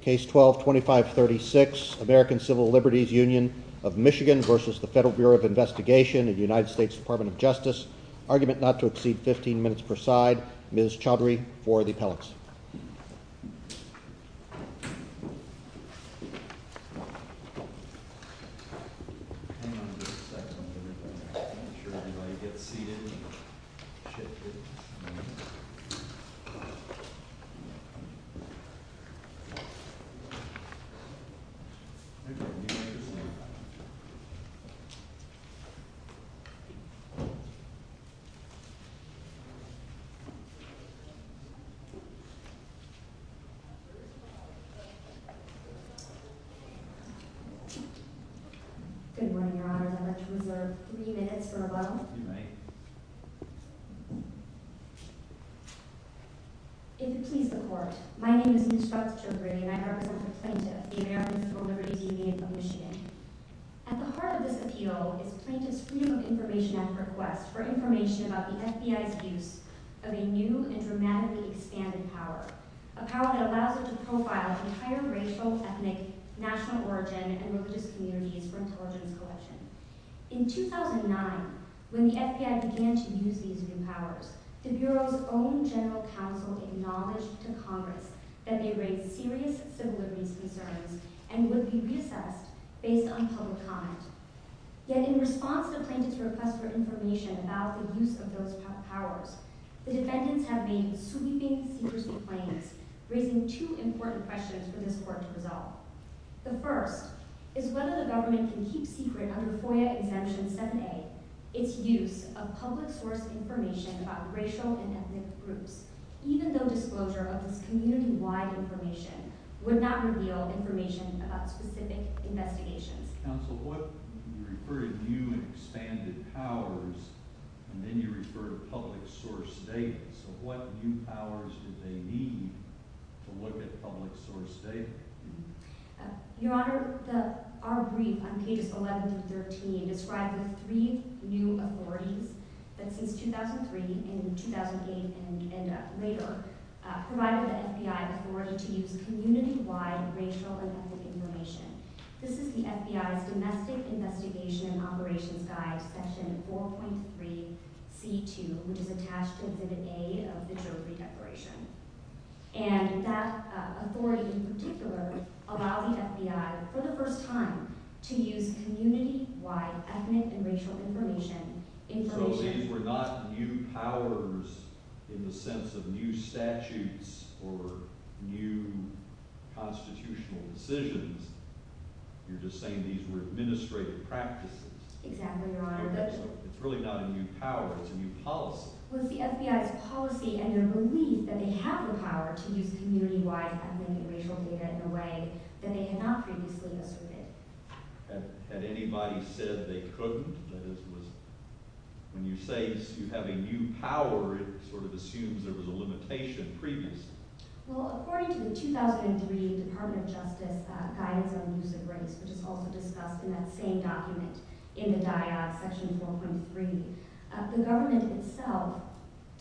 Case 12-2536, American Civil Liberties Union of Michigan v. Federal Bureau of Investigation United States Department of Justice Argument not to exceed 15 minutes per side Ms. Chaudhary for the appellates Good morning, your honors. I'd like to reserve three minutes for rebuttal. You may. If it please the court, my name is Ms. Chaudhary and I represent the plaintiff, the American Civil Liberties Union of Michigan. At the heart of this appeal is plaintiff's freedom of information at request for information about the FBI's use of a new and dramatically expanded power. A power that allows it to profile entire racial, ethnic, national origin, and religious communities for intelligence collection. In 2009, when the FBI began to use these new powers, the Bureau's own general counsel acknowledged to Congress that they raised serious civil liberties concerns and would be reassessed based on public comment. Yet in response to the plaintiff's request for information about the use of those powers, the defendants have been sweeping secrecy claims, raising two important questions for this court to resolve. The first is whether the government can keep secret under FOIA Exemption 7A its use of public source information about racial and ethnic groups, even though disclosure of this community-wide information would not reveal information about specific investigations. Counsel, you refer to new and expanded powers, and then you refer to public source data. So what new powers do they need to look at public source data? Your Honor, our brief on pages 11-13 describes the three new authorities that since 2003, in 2008, and later, provided the FBI authority to use community-wide racial and ethnic information. This is the FBI's Domestic Investigation and Operations Guide, Section 4.3.C.2, which is attached to Exhibit A of the Jury Declaration. And that authority in particular allowed the FBI, for the first time, to use community-wide ethnic and racial information. So these were not new powers in the sense of new statutes or new constitutional decisions. You're just saying these were administrative practices. Exactly, Your Honor. It's really not a new power, it's a new policy. Well, it's the FBI's policy and their belief that they have the power to use community-wide ethnic and racial data in a way that they had not previously asserted. Had anybody said they couldn't? When you say you have a new power, it sort of assumes there was a limitation previously. Well, according to the 2003 Department of Justice Guidance on the Use of Race, which is also discussed in that same document in the Dyad, Section 4.3, the government itself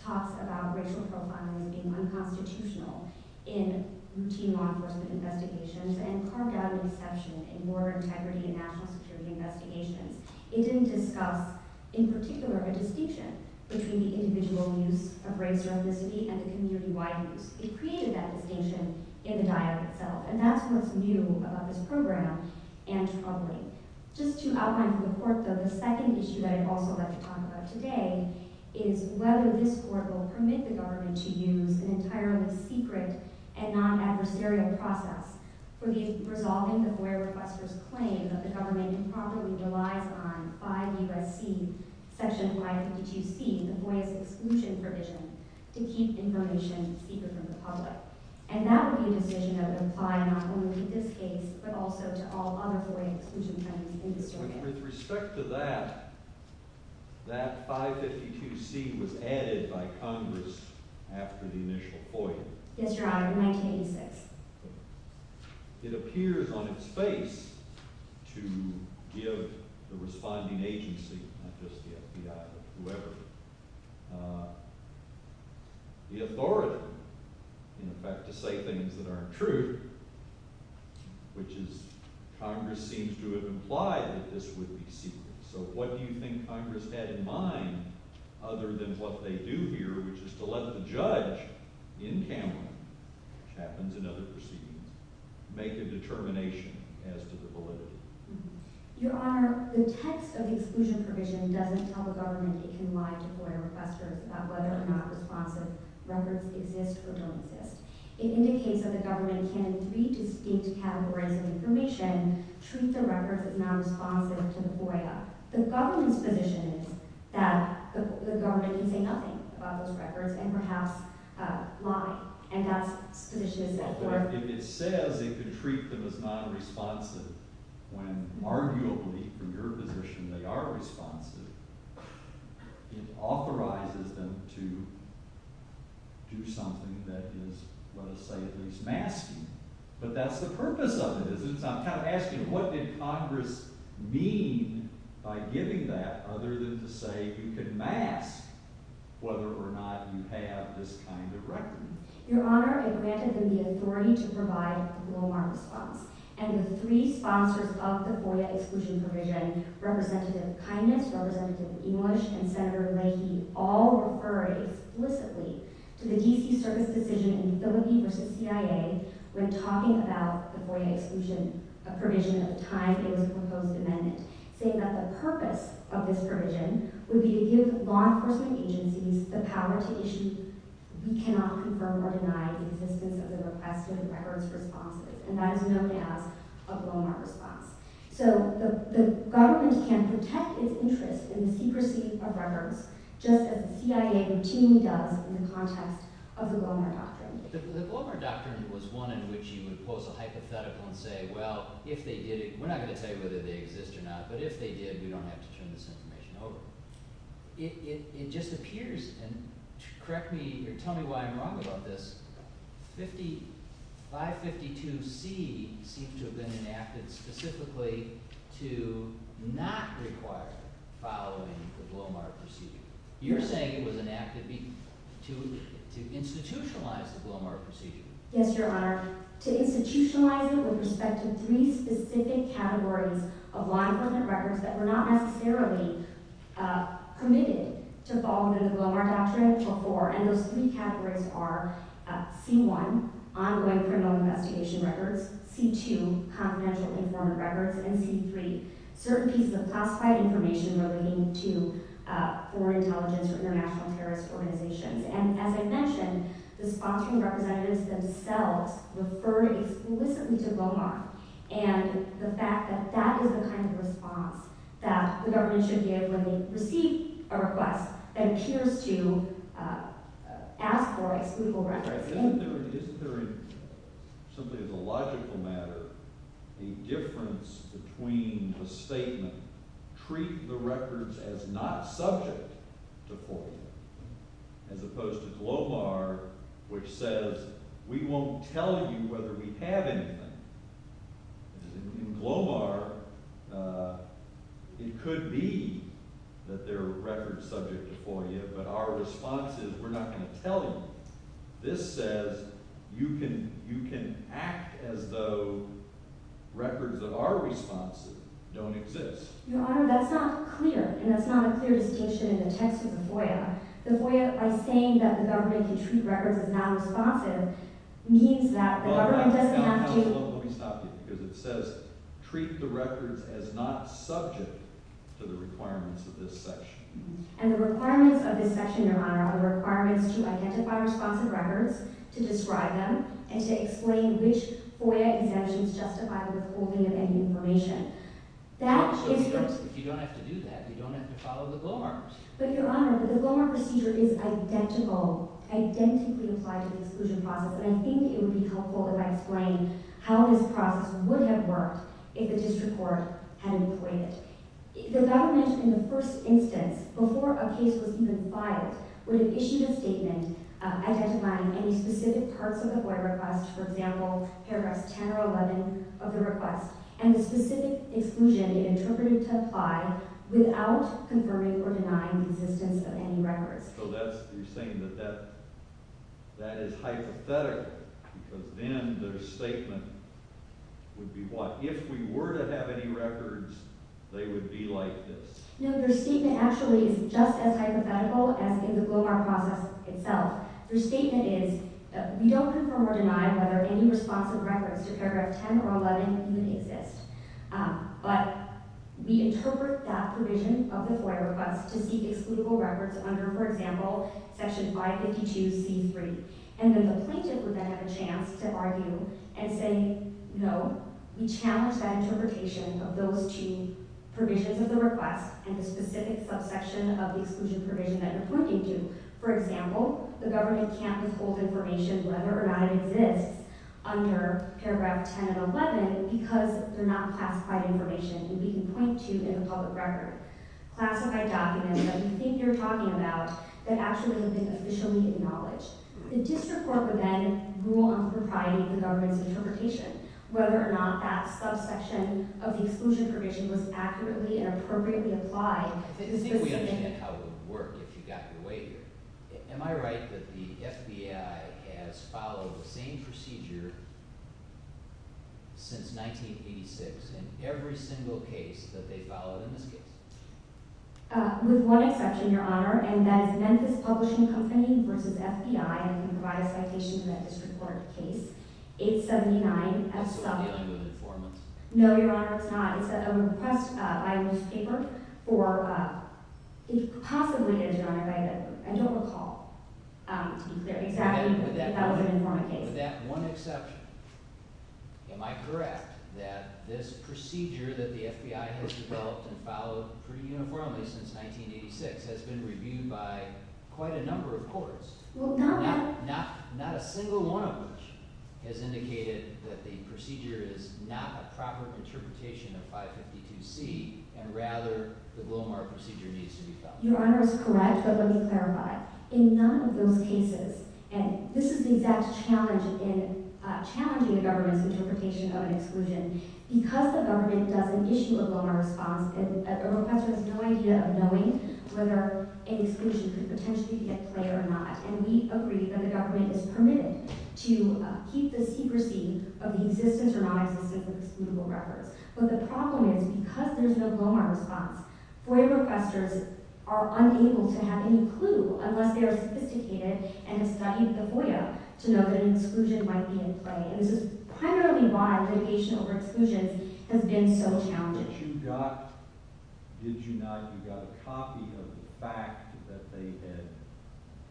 talks about racial profiling as being unconstitutional in routine law enforcement investigations and carved out an exception in border integrity and national security investigations. It didn't discuss, in particular, a distinction between the individual use of race or ethnicity and the community-wide use. It created that distinction in the Dyad itself, and that's what's new about this program and troubling. Just to outline for the Court, though, the second issue that I'd also like to talk about today is whether this Court will permit the government to use an entirely secret and non-adversarial process for resolving the FOIA requester's claim that the government improperly relies on 5 U.S.C. Section 552C, the FOIA's exclusion provision, to keep information secret from the public. And that would be a decision that would apply not only to this case, but also to all other FOIA exclusions in this document. With respect to that, that 552C was added by Congress after the initial FOIA. Yes, Your Honor, in 1986. It appears on its face to give the responding agency, not just the FBI, but whoever, the authority, in fact, to say things that aren't true, which is Congress seems to have implied that this would be secret. So what do you think Congress had in mind, other than what they do here, which is to let the judge in Cameron, which happens in other proceedings, make a determination as to the validity? Your Honor, the text of the exclusion provision doesn't tell the government it can lie to FOIA requesters about whether or not responsive records exist or don't exist. It indicates that the government can, in three distinct categories of information, treat the records as non-responsive to FOIA. The government's position is that the government can say nothing about those records and perhaps lie. And that's the position it's in. But if it says it can treat them as non-responsive, when arguably, from your position, they are responsive, it authorizes them to do something that is, let us say, at least masking. But that's the purpose of it, isn't it? So I'm kind of asking, what did Congress mean by giving that, other than to say you can mask whether or not you have this kind of record? Your Honor, it granted them the authority to provide a low-arm response. And the three sponsors of the FOIA exclusion provision, Representative Kindness, Representative English, and Senator Leahy, all refer explicitly to the D.C. Service decision in the Philippine versus CIA, when talking about the FOIA exclusion provision at the time it was proposed amendment, saying that the purpose of this provision would be to give law enforcement agencies the power to issue, we cannot confirm or deny the existence of the requested records responses. And that is known as a blow-mark response. So the government can protect its interests in the secrecy of records, just as the CIA routinely does in the context of the blow-mark doctrine. The blow-mark doctrine was one in which you would pose a hypothetical and say, well, if they did it – we're not going to tell you whether they exist or not, but if they did, we don't have to turn this information over. It just appears – and correct me or tell me why I'm wrong about this – 5552C seemed to have been enacted specifically to not require following the blow-mark procedure. You're saying it was enacted to institutionalize the blow-mark procedure. Yes, Your Honor. To institutionalize it with respect to three specific categories of law enforcement records that were not necessarily committed to following the blow-mark doctrinal for, and those three categories are C1, ongoing criminal investigation records, C2, confidential informant records, and C3, certain pieces of classified information relating to foreign intelligence or international terrorist organizations. And as I mentioned, the sponsoring representatives themselves referred explicitly to blow-mark, and the fact that that is the kind of response that the government should give when they receive a request that appears to ask for exclusive records. All right. Then isn't there – simply as a logical matter, the difference between the statement, treat the records as not subject to FOIA, as opposed to GLOBAR, which says we won't tell you whether we have anything. In GLOBAR, it could be that they're record-subject to FOIA, but our response is we're not going to tell you. This says you can act as though records that are responsive don't exist. Your Honor, that's not clear, and that's not a clear distinction in the text of the FOIA. The FOIA, by saying that the government can treat records as non-responsive, means that the government doesn't have to – Well, let me stop you, because it says treat the records as not subject to the requirements of this section. And the requirements of this section, Your Honor, are requirements to identify responsive records, to describe them, and to explain which FOIA exemptions justify withholding of any information. If you don't have to do that, you don't have to follow the GLOBAR. But, Your Honor, the GLOBAR procedure is identical, identically applied to the exclusion process, and I think it would be helpful if I explained how this process would have worked if the district court had employed it. The government, in the first instance, before a case was even filed, would have issued a statement identifying any specific parts of the FOIA request – for example, paragraphs 10 or 11 of the request – and the specific exclusion it interpreted to apply without confirming or denying the existence of any records. So that's – you're saying that that is hypothetical, because then their statement would be what? If we were to have any records, they would be like this? No, their statement actually is just as hypothetical as in the GLOBAR process itself. Their statement is, we don't confirm or deny whether any responsive records to paragraph 10 or 11 even exist. But we interpret that provision of the FOIA request to seek excludable records under, for example, section 552c3, and then the plaintiff would then have a chance to argue and say, no, we challenge that interpretation of those two provisions of the request and the specific subsection of the exclusion provision that you're pointing to. For example, the government can't withhold information whether or not it exists under paragraph 10 and 11 because they're not classified information that we can point to in a public record. Classified documents that we think you're talking about that actually have been officially acknowledged. The district court would then rule on the propriety of the government's interpretation, whether or not that subsection of the exclusion provision was accurately and appropriately applied. I think we understand how it would work if you got your way here. Am I right that the FBI has followed the same procedure since 1986 in every single case that they followed in this case? With one exception, Your Honor, and that is Memphis Publishing Company v. FBI. I can provide a citation in that district court case. It's 79. Absolutely not an informant. No, Your Honor, it's not. It's a request by a newspaper for possibly a denial of identity. I don't recall, to be clear. With that one exception, am I correct that this procedure that the FBI has developed and followed pretty uniformly since 1986 has been reviewed by quite a number of courts, not a single one of which has indicated that the procedure is not a proper interpretation of 552C and rather the Glomar procedure needs to be followed? Your Honor is correct, but let me clarify. In none of those cases, and this is the exact challenge in challenging the government's interpretation of an exclusion. Because the government doesn't issue a Glomar response, a requester has no idea of knowing whether an exclusion could potentially be at play or not. And we agree that the government is permitted to keep the secrecy of the existence or non-existence of excludable records. But the problem is, because there's no Glomar response, FOIA requesters are unable to have any clue unless they are sophisticated and have studied the FOIA to know that an exclusion might be in play. And this is primarily why litigation over exclusions has been so challenging. But you got, did you not, you got a copy of the fact that they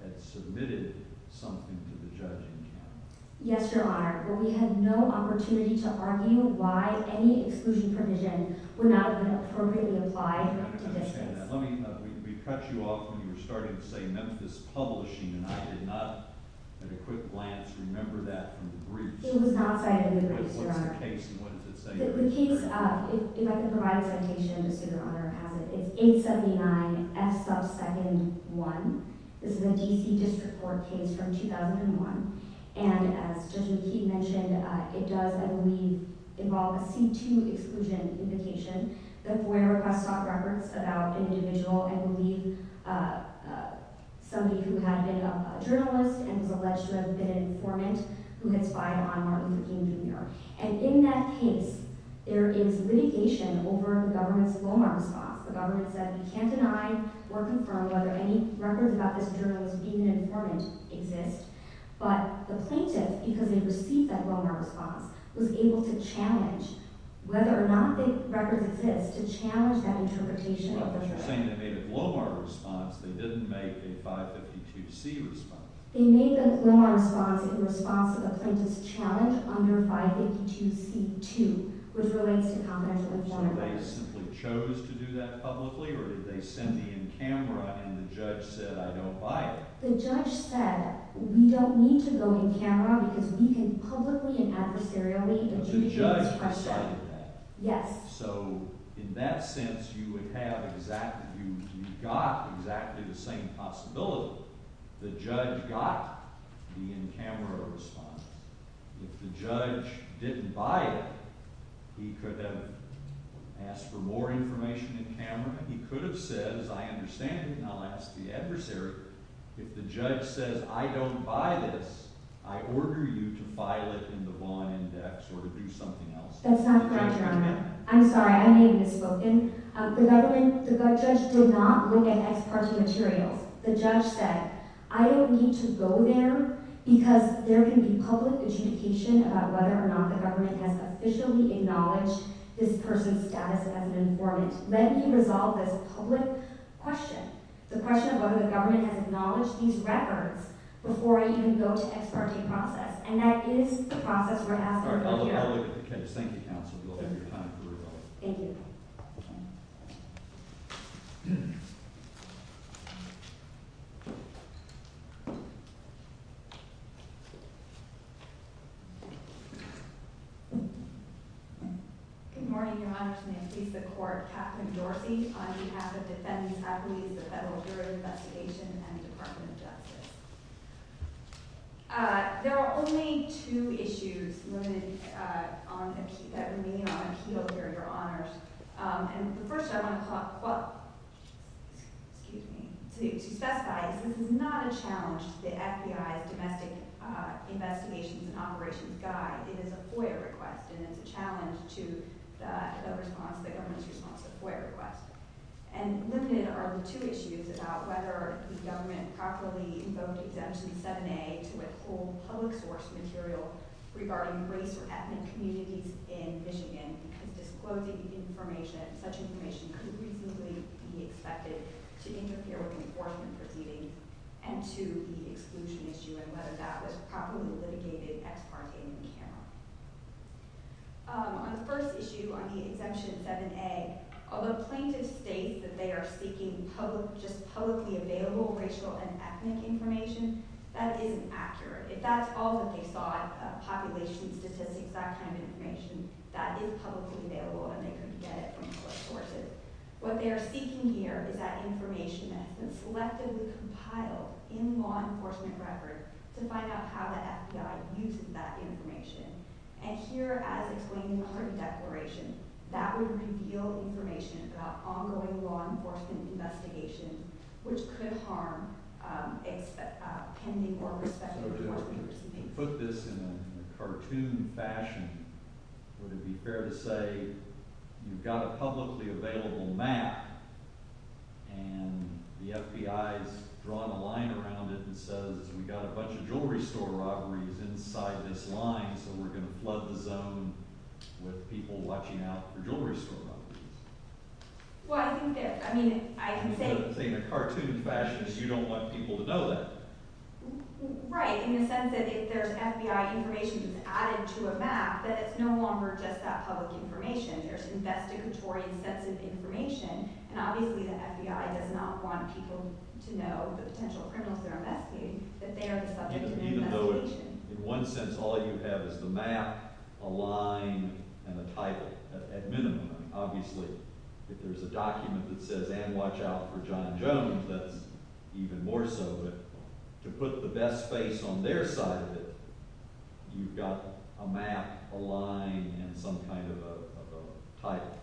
had submitted something to the judging panel? Yes, Your Honor, but we had no opportunity to argue why any exclusion provision would not have been appropriately applied. I understand that. Let me, we cut you off when you were starting to say Memphis Publishing and I did not, at a quick glance, remember that from the briefs. It was not cited in the briefs, Your Honor. But what's the case and what does it say? The case, if I could provide a citation, just so Your Honor has it, is 879 F sub 2nd 1. This is a D.C. District Court case from 2001. And as Judge McKee mentioned, it does, I believe, involve a C-2 exclusion implication. The FOIA request stopped records about an individual, I believe, somebody who had been a journalist and was alleged to have been an informant who had spied on Martin Luther King Jr. And in that case, there is litigation over the government's Glomar response. The government said we can't deny or confirm whether any records about this journalist being an informant exist. But the plaintiff, because they received that Glomar response, was able to challenge whether or not the records exist to challenge that interpretation. Well, but you're saying they made a Glomar response. They didn't make a 552C response. They made the Glomar response in response to the plaintiff's challenge under 552C-2, which relates to confidential information. So they simply chose to do that publicly, or did they send me in camera and the judge said, I don't buy it? The judge said, we don't need to go in camera because we can publicly and adversarially adjudicate this question. But the judge decided that? Yes. So in that sense, you would have exactly – you got exactly the same possibility. The judge got the in-camera response. If the judge didn't buy it, he could have asked for more information in camera. He could have said, I understand it, and I'll ask the adversary. If the judge says, I don't buy this, I order you to file it in the Vaughan Index or to do something else. That's not correct, Your Honor. I'm sorry. I may have misspoken. The government – the judge did not look at ex parte materials. The judge said, I don't need to go there because there can be public adjudication about whether or not the government has officially acknowledged this person's status as an informant. Let me resolve this public question, the question of whether the government has acknowledged these records before I even go to ex parte process. And that is the process we're asking for here. I'll look at the case. Thank you, counsel. You'll have your time to resolve it. Thank you. Good morning, Your Honor. My name is Lisa Corp. Katherine Dorsey on behalf of defendants' attorneys at the Federal Jury Investigation and Department of Justice. There are only two issues limited on – that remain on appeal here, Your Honors. And the first I want to – excuse me – to specify is this is not a challenge to the FBI's Domestic Investigations and Operations Guide. It is a FOIA request, and it's a challenge to the response – the government's response to FOIA requests. And limited are the two issues about whether the government properly invoked Exemption 7A to withhold public source material regarding race or ethnic communities in Michigan because disclosing information – such information could reasonably be expected to interfere with enforcement proceedings. And two, the exclusion issue and whether that was properly litigated ex parte in the camera. On the first issue, on the Exemption 7A, although plaintiffs state that they are seeking just publicly available racial and ethnic information, that isn't accurate. If that's all that they saw of population statistics, that kind of information, that is publicly available, and they couldn't get it from public sources. What they are seeking here is that information that has been selectively compiled in law enforcement record to find out how the FBI uses that information. And here, as explained in the Horton Declaration, that would reveal information about ongoing law enforcement investigations, which could harm pending or rescheduled – If you put this in a cartoon fashion, would it be fair to say you've got a publicly available map, and the FBI has drawn a line around it and says, we've got a bunch of jewelry store robberies inside this line, so we're going to flood the zone with people watching out for jewelry store robberies? Well, I think that – I mean, I can say – You put it in a cartoon fashion, so you don't want people to know that. Right, in the sense that if there's FBI information that's added to a map, that it's no longer just that public information. There's investigatory sets of information, and obviously the FBI does not want people to know the potential criminals they're investigating, that they are the subject of an investigation. In one sense, all you have is the map, a line, and a title, at minimum. Obviously, if there's a document that says, and watch out for John Jones, that's even more so. But to put the best face on their side of it, you've got a map, a line, and some kind of a title.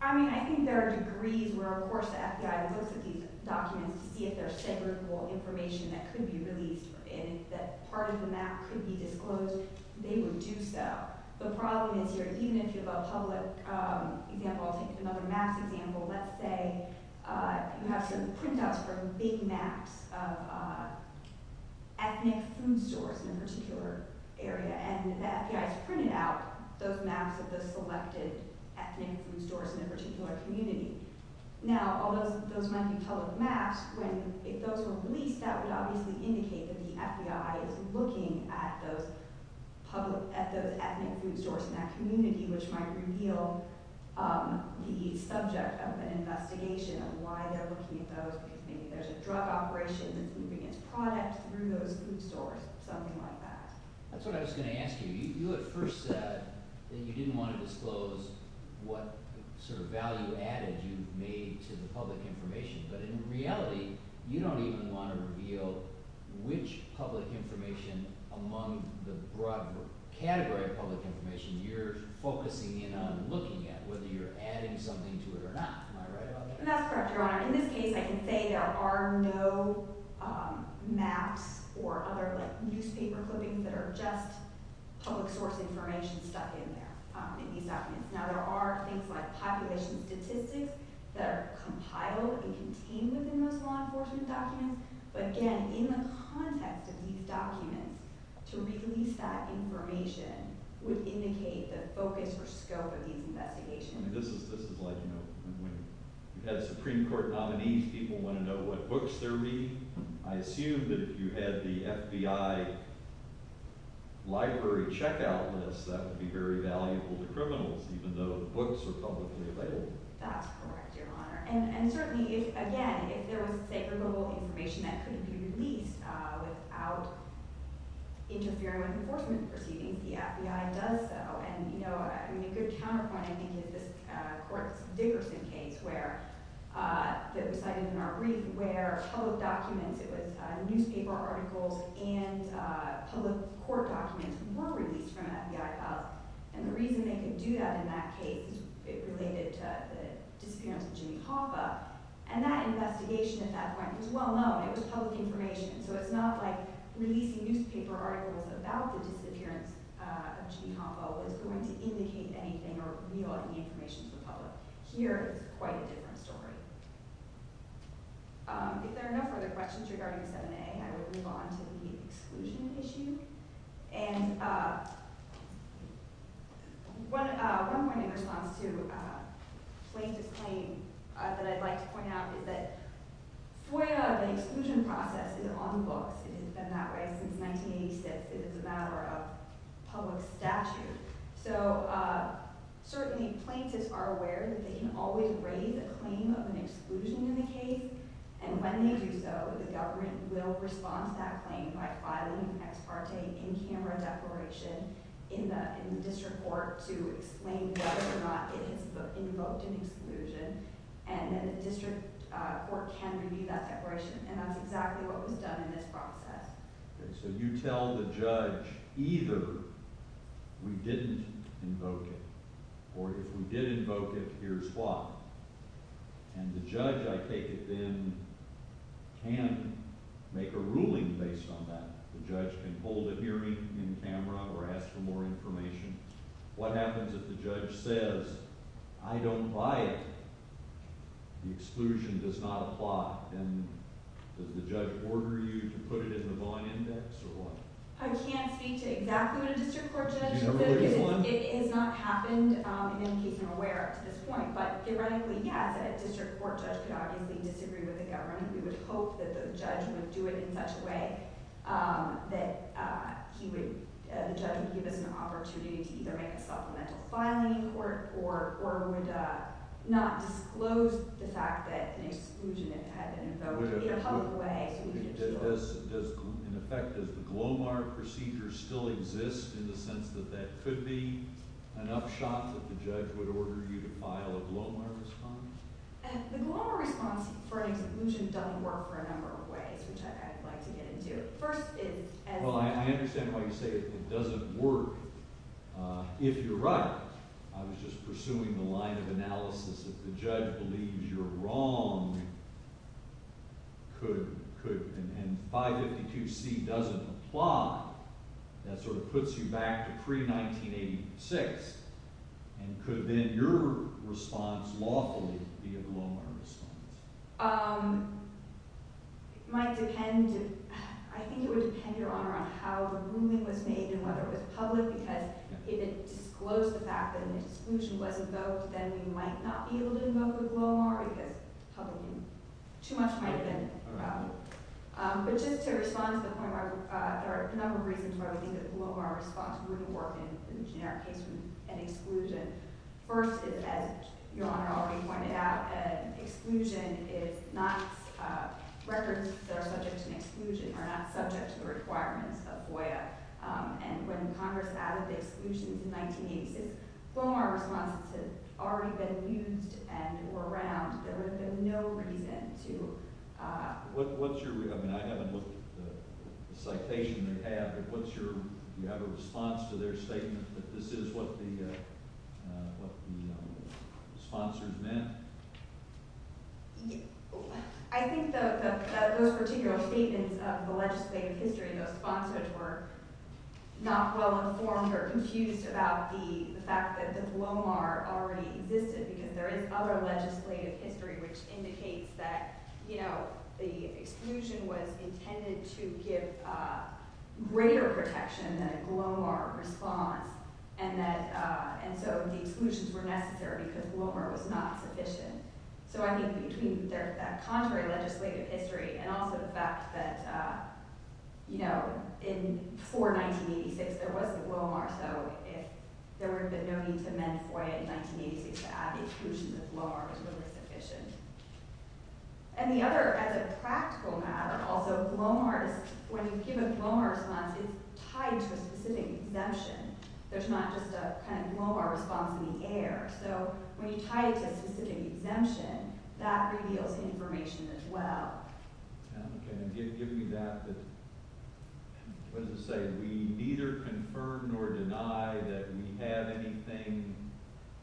I mean, I think there are degrees where, of course, the FBI looks at these documents to see if there's segregable information that could be released, and if that part of the map could be disclosed, they would do so. The problem is, even if you have a public – I'll take another maps example. Let's say you have some printouts from big maps of ethnic food stores in a particular area, and the FBI has printed out those maps of the selected ethnic food stores in a particular community. Now, although those might be public maps, if those were released, that would obviously indicate that the FBI is looking at those ethnic food stores in that community, which might reveal the subject of an investigation of why they're looking at those, because maybe there's a drug operation that's moving its product through those food stores, something like that. That's what I was going to ask you. You at first said that you didn't want to disclose what sort of value added you've made to the public information. But in reality, you don't even want to reveal which public information among the broad category of public information you're focusing in on looking at, whether you're adding something to it or not. Am I right about that? That's correct, Your Honor. In this case, I can say there are no maps or other newspaper clippings that are just public source information stuck in there, in these documents. Now, there are things like population statistics that are compiled and contained within those law enforcement documents. But again, in the context of these documents, to release that information would indicate the focus or scope of these investigations. This is like when you have Supreme Court nominees, people want to know what books they're reading. I assume that if you had the FBI library checkout list, that would be very valuable to criminals, even though the books are publicly available. That's correct, Your Honor. And certainly, again, if there was, say, verbal information that couldn't be released without interfering with enforcement proceedings, the FBI does so. A good counterpoint, I think, is this Dickerson case that was cited in our brief, where public documents, it was newspaper articles and public court documents were released from FBI files. And the reason they could do that in that case, it related to the disappearance of Jimmy Hoffa. And that investigation at that point was well known. It was public information. So it's not like releasing newspaper articles about the disappearance of Jimmy Hoffa was going to indicate anything or reveal any information to the public. Here, it's quite a different story. If there are no further questions regarding 7A, I will move on to the exclusion issue. And one point in response to Plaintiff's claim that I'd like to point out is that FOIA, the exclusion process, is on books. It has been that way since 1986. It is a matter of public statute. So, certainly, plaintiffs are aware that they can always raise a claim of an exclusion in the case. And when they do so, the government will respond to that claim by filing an ex parte in-camera declaration in the district court to explain whether or not it has invoked an exclusion. And then the district court can review that declaration. And that's exactly what was done in this process. Okay, so you tell the judge either we didn't invoke it or if we did invoke it, here's why. And the judge, I take it, then can make a ruling based on that. The judge can hold a hearing in-camera or ask for more information. What happens if the judge says, I don't buy it, the exclusion does not apply? Then does the judge order you to put it in the bond index or what? I can't speak to exactly what a district court judge would do because it has not happened in any case I'm aware of to this point. But, theoretically, yes, a district court judge could obviously disagree with the government. We would hope that the judge would do it in such a way that the judge would give us an opportunity to either make a supplemental filing in court or would not disclose the fact that an exclusion had been invoked in a public way. In effect, does the GLOMAR procedure still exist in the sense that that could be an upshot that the judge would order you to file a GLOMAR response? The GLOMAR response for an exclusion doesn't work for a number of ways, which I'd like to get into. First, it – Well, I understand why you say it doesn't work. If you're right, I was just pursuing the line of analysis that the judge believes you're wrong and 552C doesn't apply, that sort of puts you back to pre-1986. And could then your response lawfully be a GLOMAR response? It might depend – I think it would depend, Your Honor, on how the ruling was made and whether it was public because if it disclosed the fact that an exclusion was invoked, then we might not be able to invoke the GLOMAR because public – too much might have been allowed. But just to respond to the point where – there are a number of reasons why we think that the GLOMAR response wouldn't work in the generic case of an exclusion. First is, as Your Honor already pointed out, an exclusion is not – records that are subject to an exclusion are not subject to the requirements of FOIA. And when Congress added the exclusions in 1986, GLOMAR responses had already been used and were around. There would have been no reason to – What's your – I mean, I haven't looked at the citation they have, but what's your – do you have a response to their statement that this is what the sponsors meant? I think those particular statements of the legislative history, those sponsors were not well-informed or confused about the fact that the GLOMAR already existed because there is other legislative history which indicates that, you know, the exclusion was intended to give greater protection than a GLOMAR response. And that – and so the exclusions were necessary because GLOMAR was not sufficient. So I think between their – that contrary legislative history and also the fact that, you know, in – for 1986 there wasn't GLOMAR, so if there would have been no need to amend FOIA in 1986 to add the exclusion, the GLOMAR was really sufficient. And the other, as a practical matter also, GLOMAR is – when you give a GLOMAR response, it's tied to a specific exemption. There's not just a kind of GLOMAR response in the air. So when you tie it to a specific exemption, that reveals information as well. Okay. And give me that, that – what does it say? We neither confirm nor deny that we have anything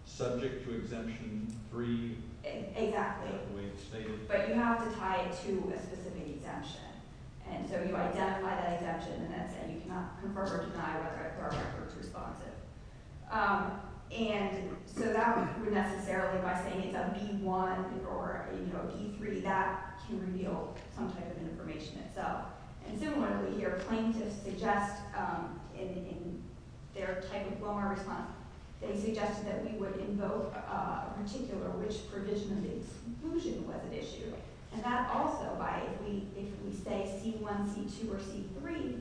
subject to Exemption 3? Exactly. The way it's stated? But you have to tie it to a specific exemption. And so you identify that exemption and then say you cannot confirm or deny whether our record's responsive. And so that would necessarily, by saying it's a B-1 or, you know, a B-3, that can reveal some type of information itself. And similarly, your plaintiffs suggest in their type of GLOMAR response, they suggested that we would invoke a particular which provision of the exclusion was at issue. And that also, by – if we say C-1, C-2, or C-3,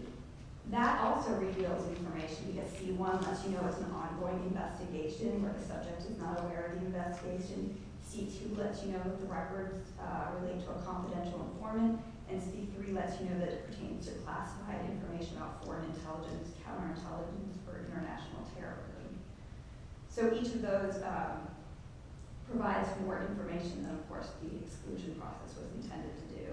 that also reveals information because C-1 lets you know it's an ongoing investigation where the subject is not aware of the investigation. C-2 lets you know that the records relate to a confidential informant. And C-3 lets you know that it pertains to classified information about foreign intelligence, counterintelligence, or international terrorism. So each of those provides more information than, of course, the exclusion process was intended to do.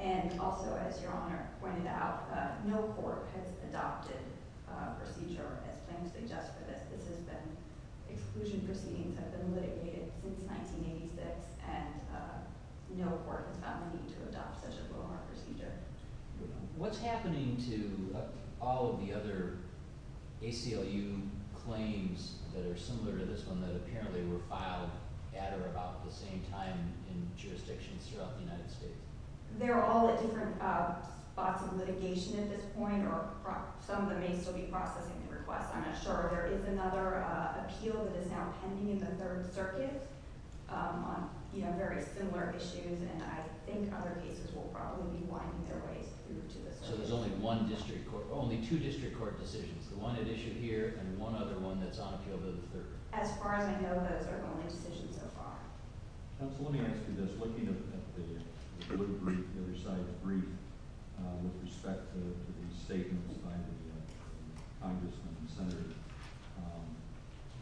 And also, as Your Honor pointed out, no court has adopted a procedure, as claims suggest, for this. This has been – exclusion proceedings have been litigated since 1986, and no court has found the need to adopt such a GLOMAR procedure. What's happening to all of the other ACLU claims that are similar to this one that apparently were filed at or about the same time in jurisdictions throughout the United States? They're all at different spots of litigation at this point, or some of them may still be processing the request. I'm not sure. There is another appeal that is now pending in the Third Circuit on very similar issues, and I think other cases will probably be winding their ways through to this one. So there's only one district court – only two district court decisions, the one at issue here and one other one that's on appeal to the Third? As far as I know, those are the only decisions so far. Counsel, let me ask you this. Looking at the little brief, the other side of the brief, with respect to the statements by the congressmen and senators,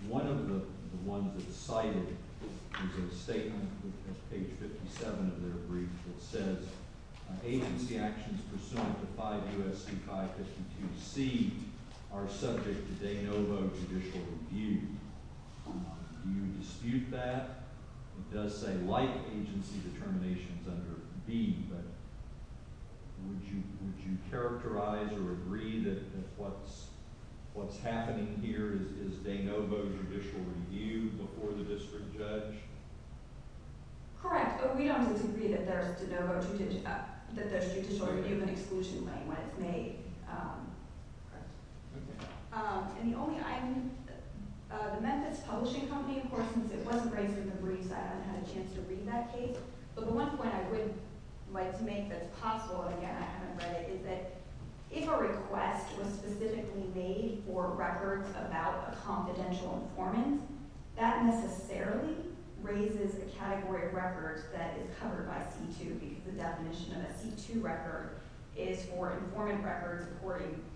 one of the ones that's cited is a statement at page 57 of their brief that says agency actions pursuant to 5 U.S.C. 5-52C are subject to de novo judicial review. Do you dispute that? It does say like agency determinations under B, but would you characterize or agree that what's happening here is de novo judicial review before the district judge? Correct. We don't disagree that there's de novo judicial – that there's judicial review of an exclusion claim when it's made. And the only – I'm – the Memphis Publishing Company, of course, since it wasn't raised in the briefs, I haven't had a chance to read that case. But the one point I would like to make that's possible, again, I haven't read it, is that if a request was specifically made for records about a confidential informant, that necessarily raises a category of records that is covered by C-2 because the definition of a C-2 record is for informant records according –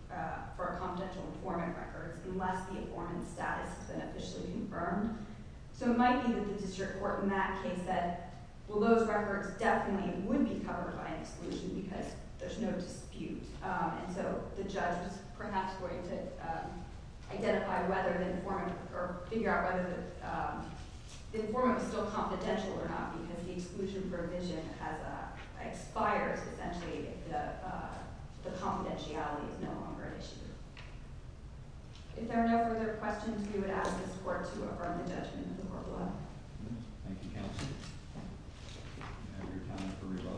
for confidential informant records unless the informant's status has been officially confirmed. So it might be that the district court in that case said, well, those records definitely would be covered by an exclusion because there's no dispute. And so the judge is perhaps going to identify whether the informant – or figure out whether the informant was still confidential or not because the exclusion provision has – expires essentially if the confidentiality is no longer an issue. If there are no further questions, we would ask this court to affirm the judgment of the court below. Thank you, counsel. Do we have any time for revo?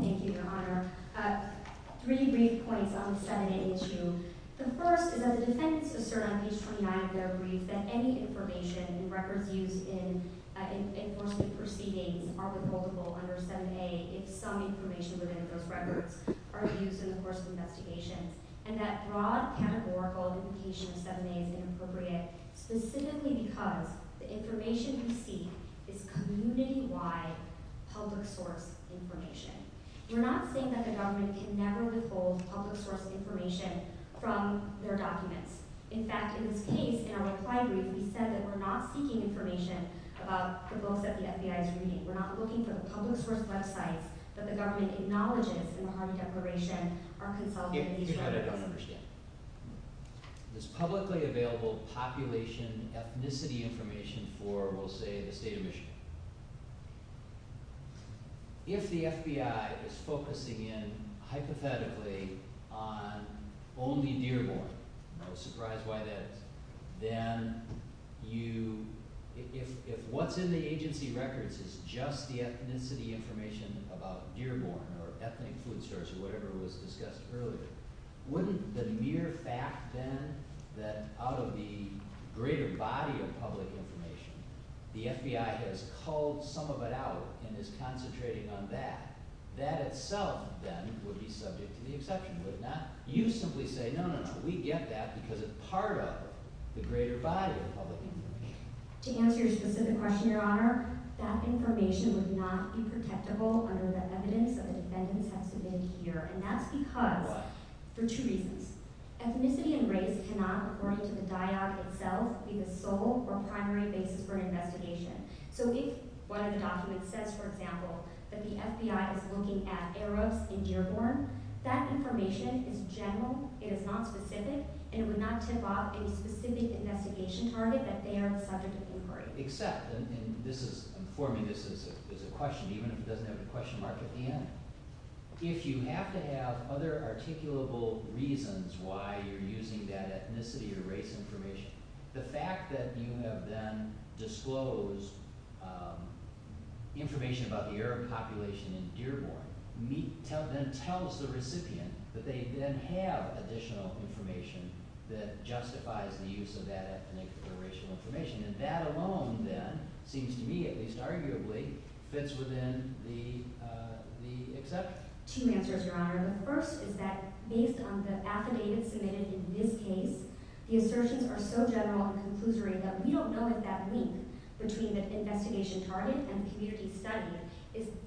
Thank you, Your Honor. Three brief points on the 7A issue. The first is that the defendants assert on page 29 of their brief that any information in records used in enforcement proceedings are withholdable under 7A if some information within those records are used in the course of investigations. And that broad categorical indication of 7A is inappropriate specifically because the information we seek is community-wide public source information. We're not saying that the government can never withhold public source information from their documents. In fact, in this case, in our reply brief, we said that we're not seeking information about the books that the FBI is reading. We're not looking for the public source websites that the government acknowledges in the Harvey Declaration are consulted in these records. If you had it, I understand. There's publicly available population ethnicity information for, we'll say, the state of Michigan. If the FBI is focusing in hypothetically on only Dearborn, no surprise why that is, then you – if what's in the agency records is just the ethnicity information about Dearborn or ethnic food stores or whatever was discussed earlier, wouldn't the mere fact, then, that out of the greater body of public information, the FBI has culled some of it out and is concentrating on that, that itself, then, would be subject to the exception? Would it not? You simply say, no, no, no, we get that because it's part of the greater body of public information. To answer your specific question, Your Honor, that information would not be protectable under the evidence that the defendants have submitted here. And that's because… Why? For two reasons. Ethnicity and race cannot, according to the dyad itself, be the sole or primary basis for an investigation. So if one of the documents says, for example, that the FBI is looking at Eros in Dearborn, that information is general. It is not specific, and it would not tip off any specific investigation target that they are the subject of inquiry. Except – and this is – for me, this is a question, even if it doesn't have the question mark at the end. If you have to have other articulable reasons why you're using that ethnicity or race information, the fact that you have then disclosed information about the Eros population in Dearborn, then tells the recipient that they then have additional information that justifies the use of that ethnic or racial information. And that alone, then, seems to me, at least arguably, fits within the exception. Two answers, Your Honor. The first is that based on the affidavits submitted in this case, the assertions are so general and conclusory that we don't know if that link between the investigation target and the community study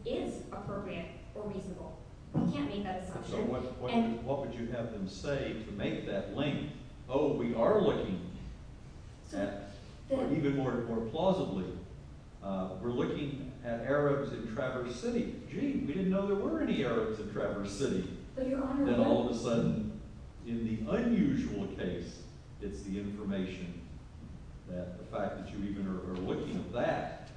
is appropriate or reasonable. We can't make that assumption. So what would you have them say to make that link? Oh, we are looking. Even more plausibly, we're looking at Eros in Traverse City. Gee, we didn't know there were any Eros in Traverse City. Then all of a sudden, in the unusual case, it's the information that the fact that you even are looking at that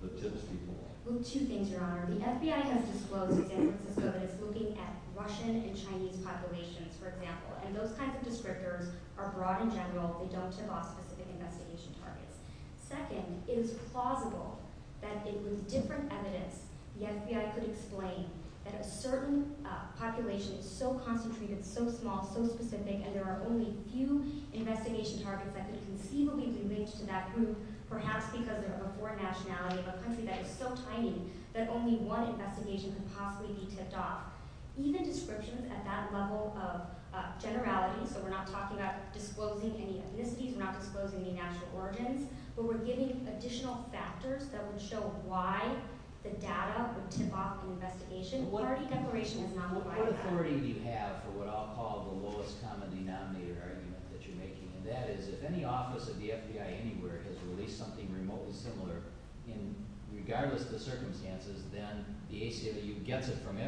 that tips people off. Well, two things, Your Honor. The FBI has disclosed to San Francisco that it's looking at Russian and Chinese populations, for example. And those kinds of descriptors are broad and general. They don't tip off specific investigation targets. Second, it is plausible that with different evidence, the FBI could explain that a certain population is so concentrated, so small, so specific, and there are only a few investigation targets that could conceivably be linked to that group, perhaps because they're of a foreign nationality, of a country that is so tiny, that only one investigation could possibly be tipped off. Even descriptions at that level of generality, so we're not talking about disclosing any ethnicities, we're not disclosing any national origins, but we're giving additional factors that would show why the data would tip off an investigation. What authority do you have for what I'll call the lowest common denominator argument that you're making? And that is, if any office of the FBI anywhere has released something remotely similar, regardless of the circumstances, then the ACLU gets it from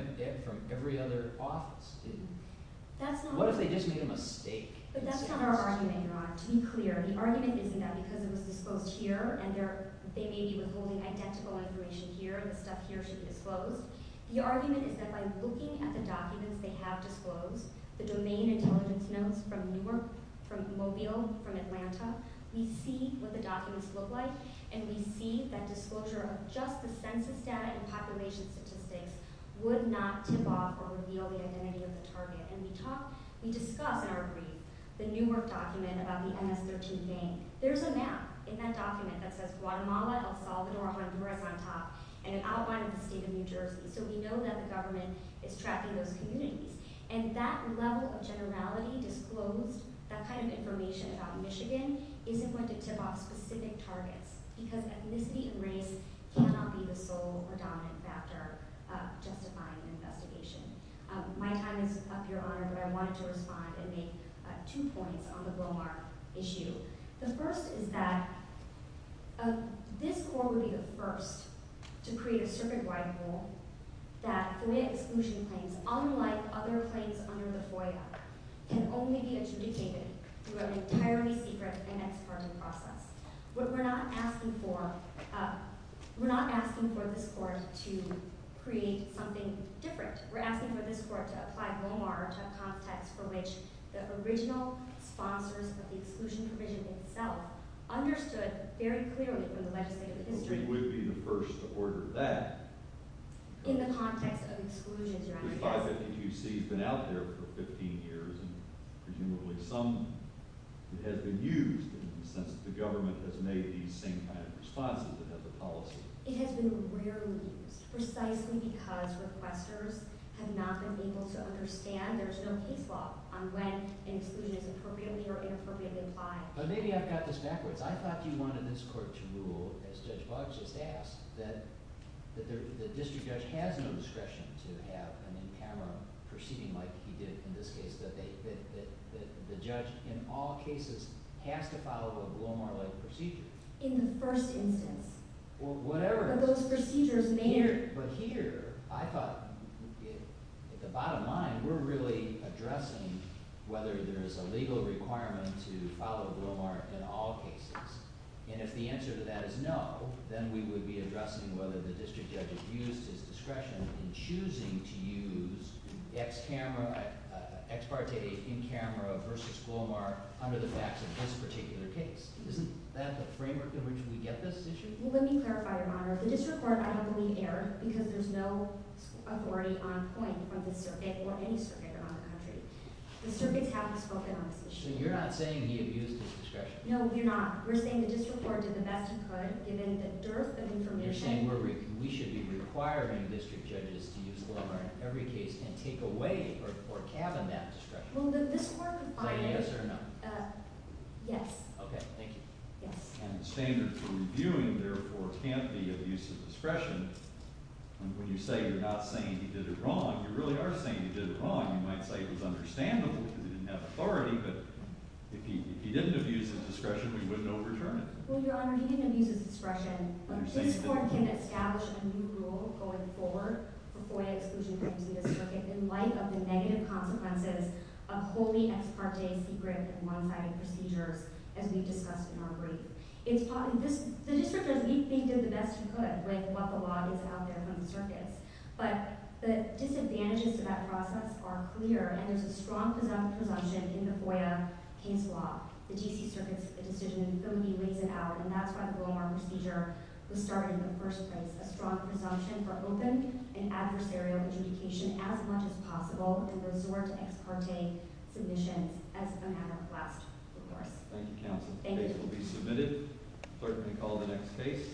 every other office. What if they just made a mistake? But that's not our argument, Your Honor. To be clear, the argument isn't that because it was disclosed here, and they may be withholding identical information here, the stuff here should be disclosed. The argument is that by looking at the documents they have disclosed, we see what the documents look like, and we see that disclosure of just the census data and population statistics would not tip off or reveal the identity of the target. And we discuss in our brief the Newark document about the MS-13 gang. There's a map in that document that says Guatemala, El Salvador, Honduras on top, and an outline of the state of New Jersey. So we know that the government is tracking those communities. And that level of generality, disclosed, that kind of information about Michigan, isn't going to tip off specific targets, because ethnicity and race cannot be the sole or dominant factor justifying an investigation. My time is up, Your Honor, but I wanted to respond and make two points on the Blomar issue. The first is that this court would be the first to create a circuit-wide rule that FOIA exclusion claims, unlike other claims under the FOIA, can only be adjudicated through an entirely secret and expert process. We're not asking for this court to create something different. We're asking for this court to apply Blomar to a context for which the original sponsors of the exclusion provision itself understood very clearly from the legislative history I think we'd be the first to order that. In the context of exclusions, Your Honor. 3552C has been out there for 15 years, and presumably some of it has been used in the sense that the government has made these same kind of responses, it has a policy. It has been rarely used, precisely because requesters have not been able to understand. There's no case law on when an exclusion is appropriately or inappropriately applied. But maybe I've got this backwards. I thought you wanted this court to rule, as Judge Buggs just asked, that the district judge has no discretion to have an in-camera proceeding like he did in this case, that the judge in all cases has to follow a Blomar-like procedure. In the first instance. Whatever. But those procedures may or may not. But here, I thought, at the bottom line, we're really addressing whether there is a legal requirement to follow Blomar in all cases. And if the answer to that is no, then we would be addressing whether the district judge has used his discretion in choosing to use ex-parte in-camera versus Blomar under the facts of this particular case. Isn't that the framework in which we get this issue? Let me clarify, Your Honor. The district court, I don't believe, erred, because there's no authority on point on this circuit, or any circuit around the country. The circuits haven't spoken on this issue. So you're not saying he abused his discretion? No, you're not. We're saying the district court did the best it could, given the dearth of information. You're saying we should be requiring district judges to use Blomar in every case and take away or cabin that discretion? Well, this court defined it. By yes or no? Yes. Okay, thank you. Yes. And the standards we're reviewing, therefore, can't be abuse of discretion. And when you say you're not saying he did it wrong, you really are saying he did it wrong. You might say it was understandable because he didn't have authority, but if he didn't abuse his discretion, we wouldn't overturn it. Well, Your Honor, he didn't abuse his discretion. This court can establish a new rule going forward for FOIA exclusion claims in this circuit in light of the negative consequences of wholly ex parte secret and one-sided procedures, as we've discussed in our brief. The district judge, he did the best he could with what the law is out there from the circuits. But the disadvantages to that process are clear, and there's a strong presumption in the FOIA case law. The D.C. Circuit's decision in Philly lays it out, and that's why the Blomar procedure was started in the first place. A strong presumption for open and adversarial adjudication as much as possible and resort to ex parte submissions as a matter of last recourse. Thank you, counsel. Thank you. The case will be submitted. Clerk may call the next case.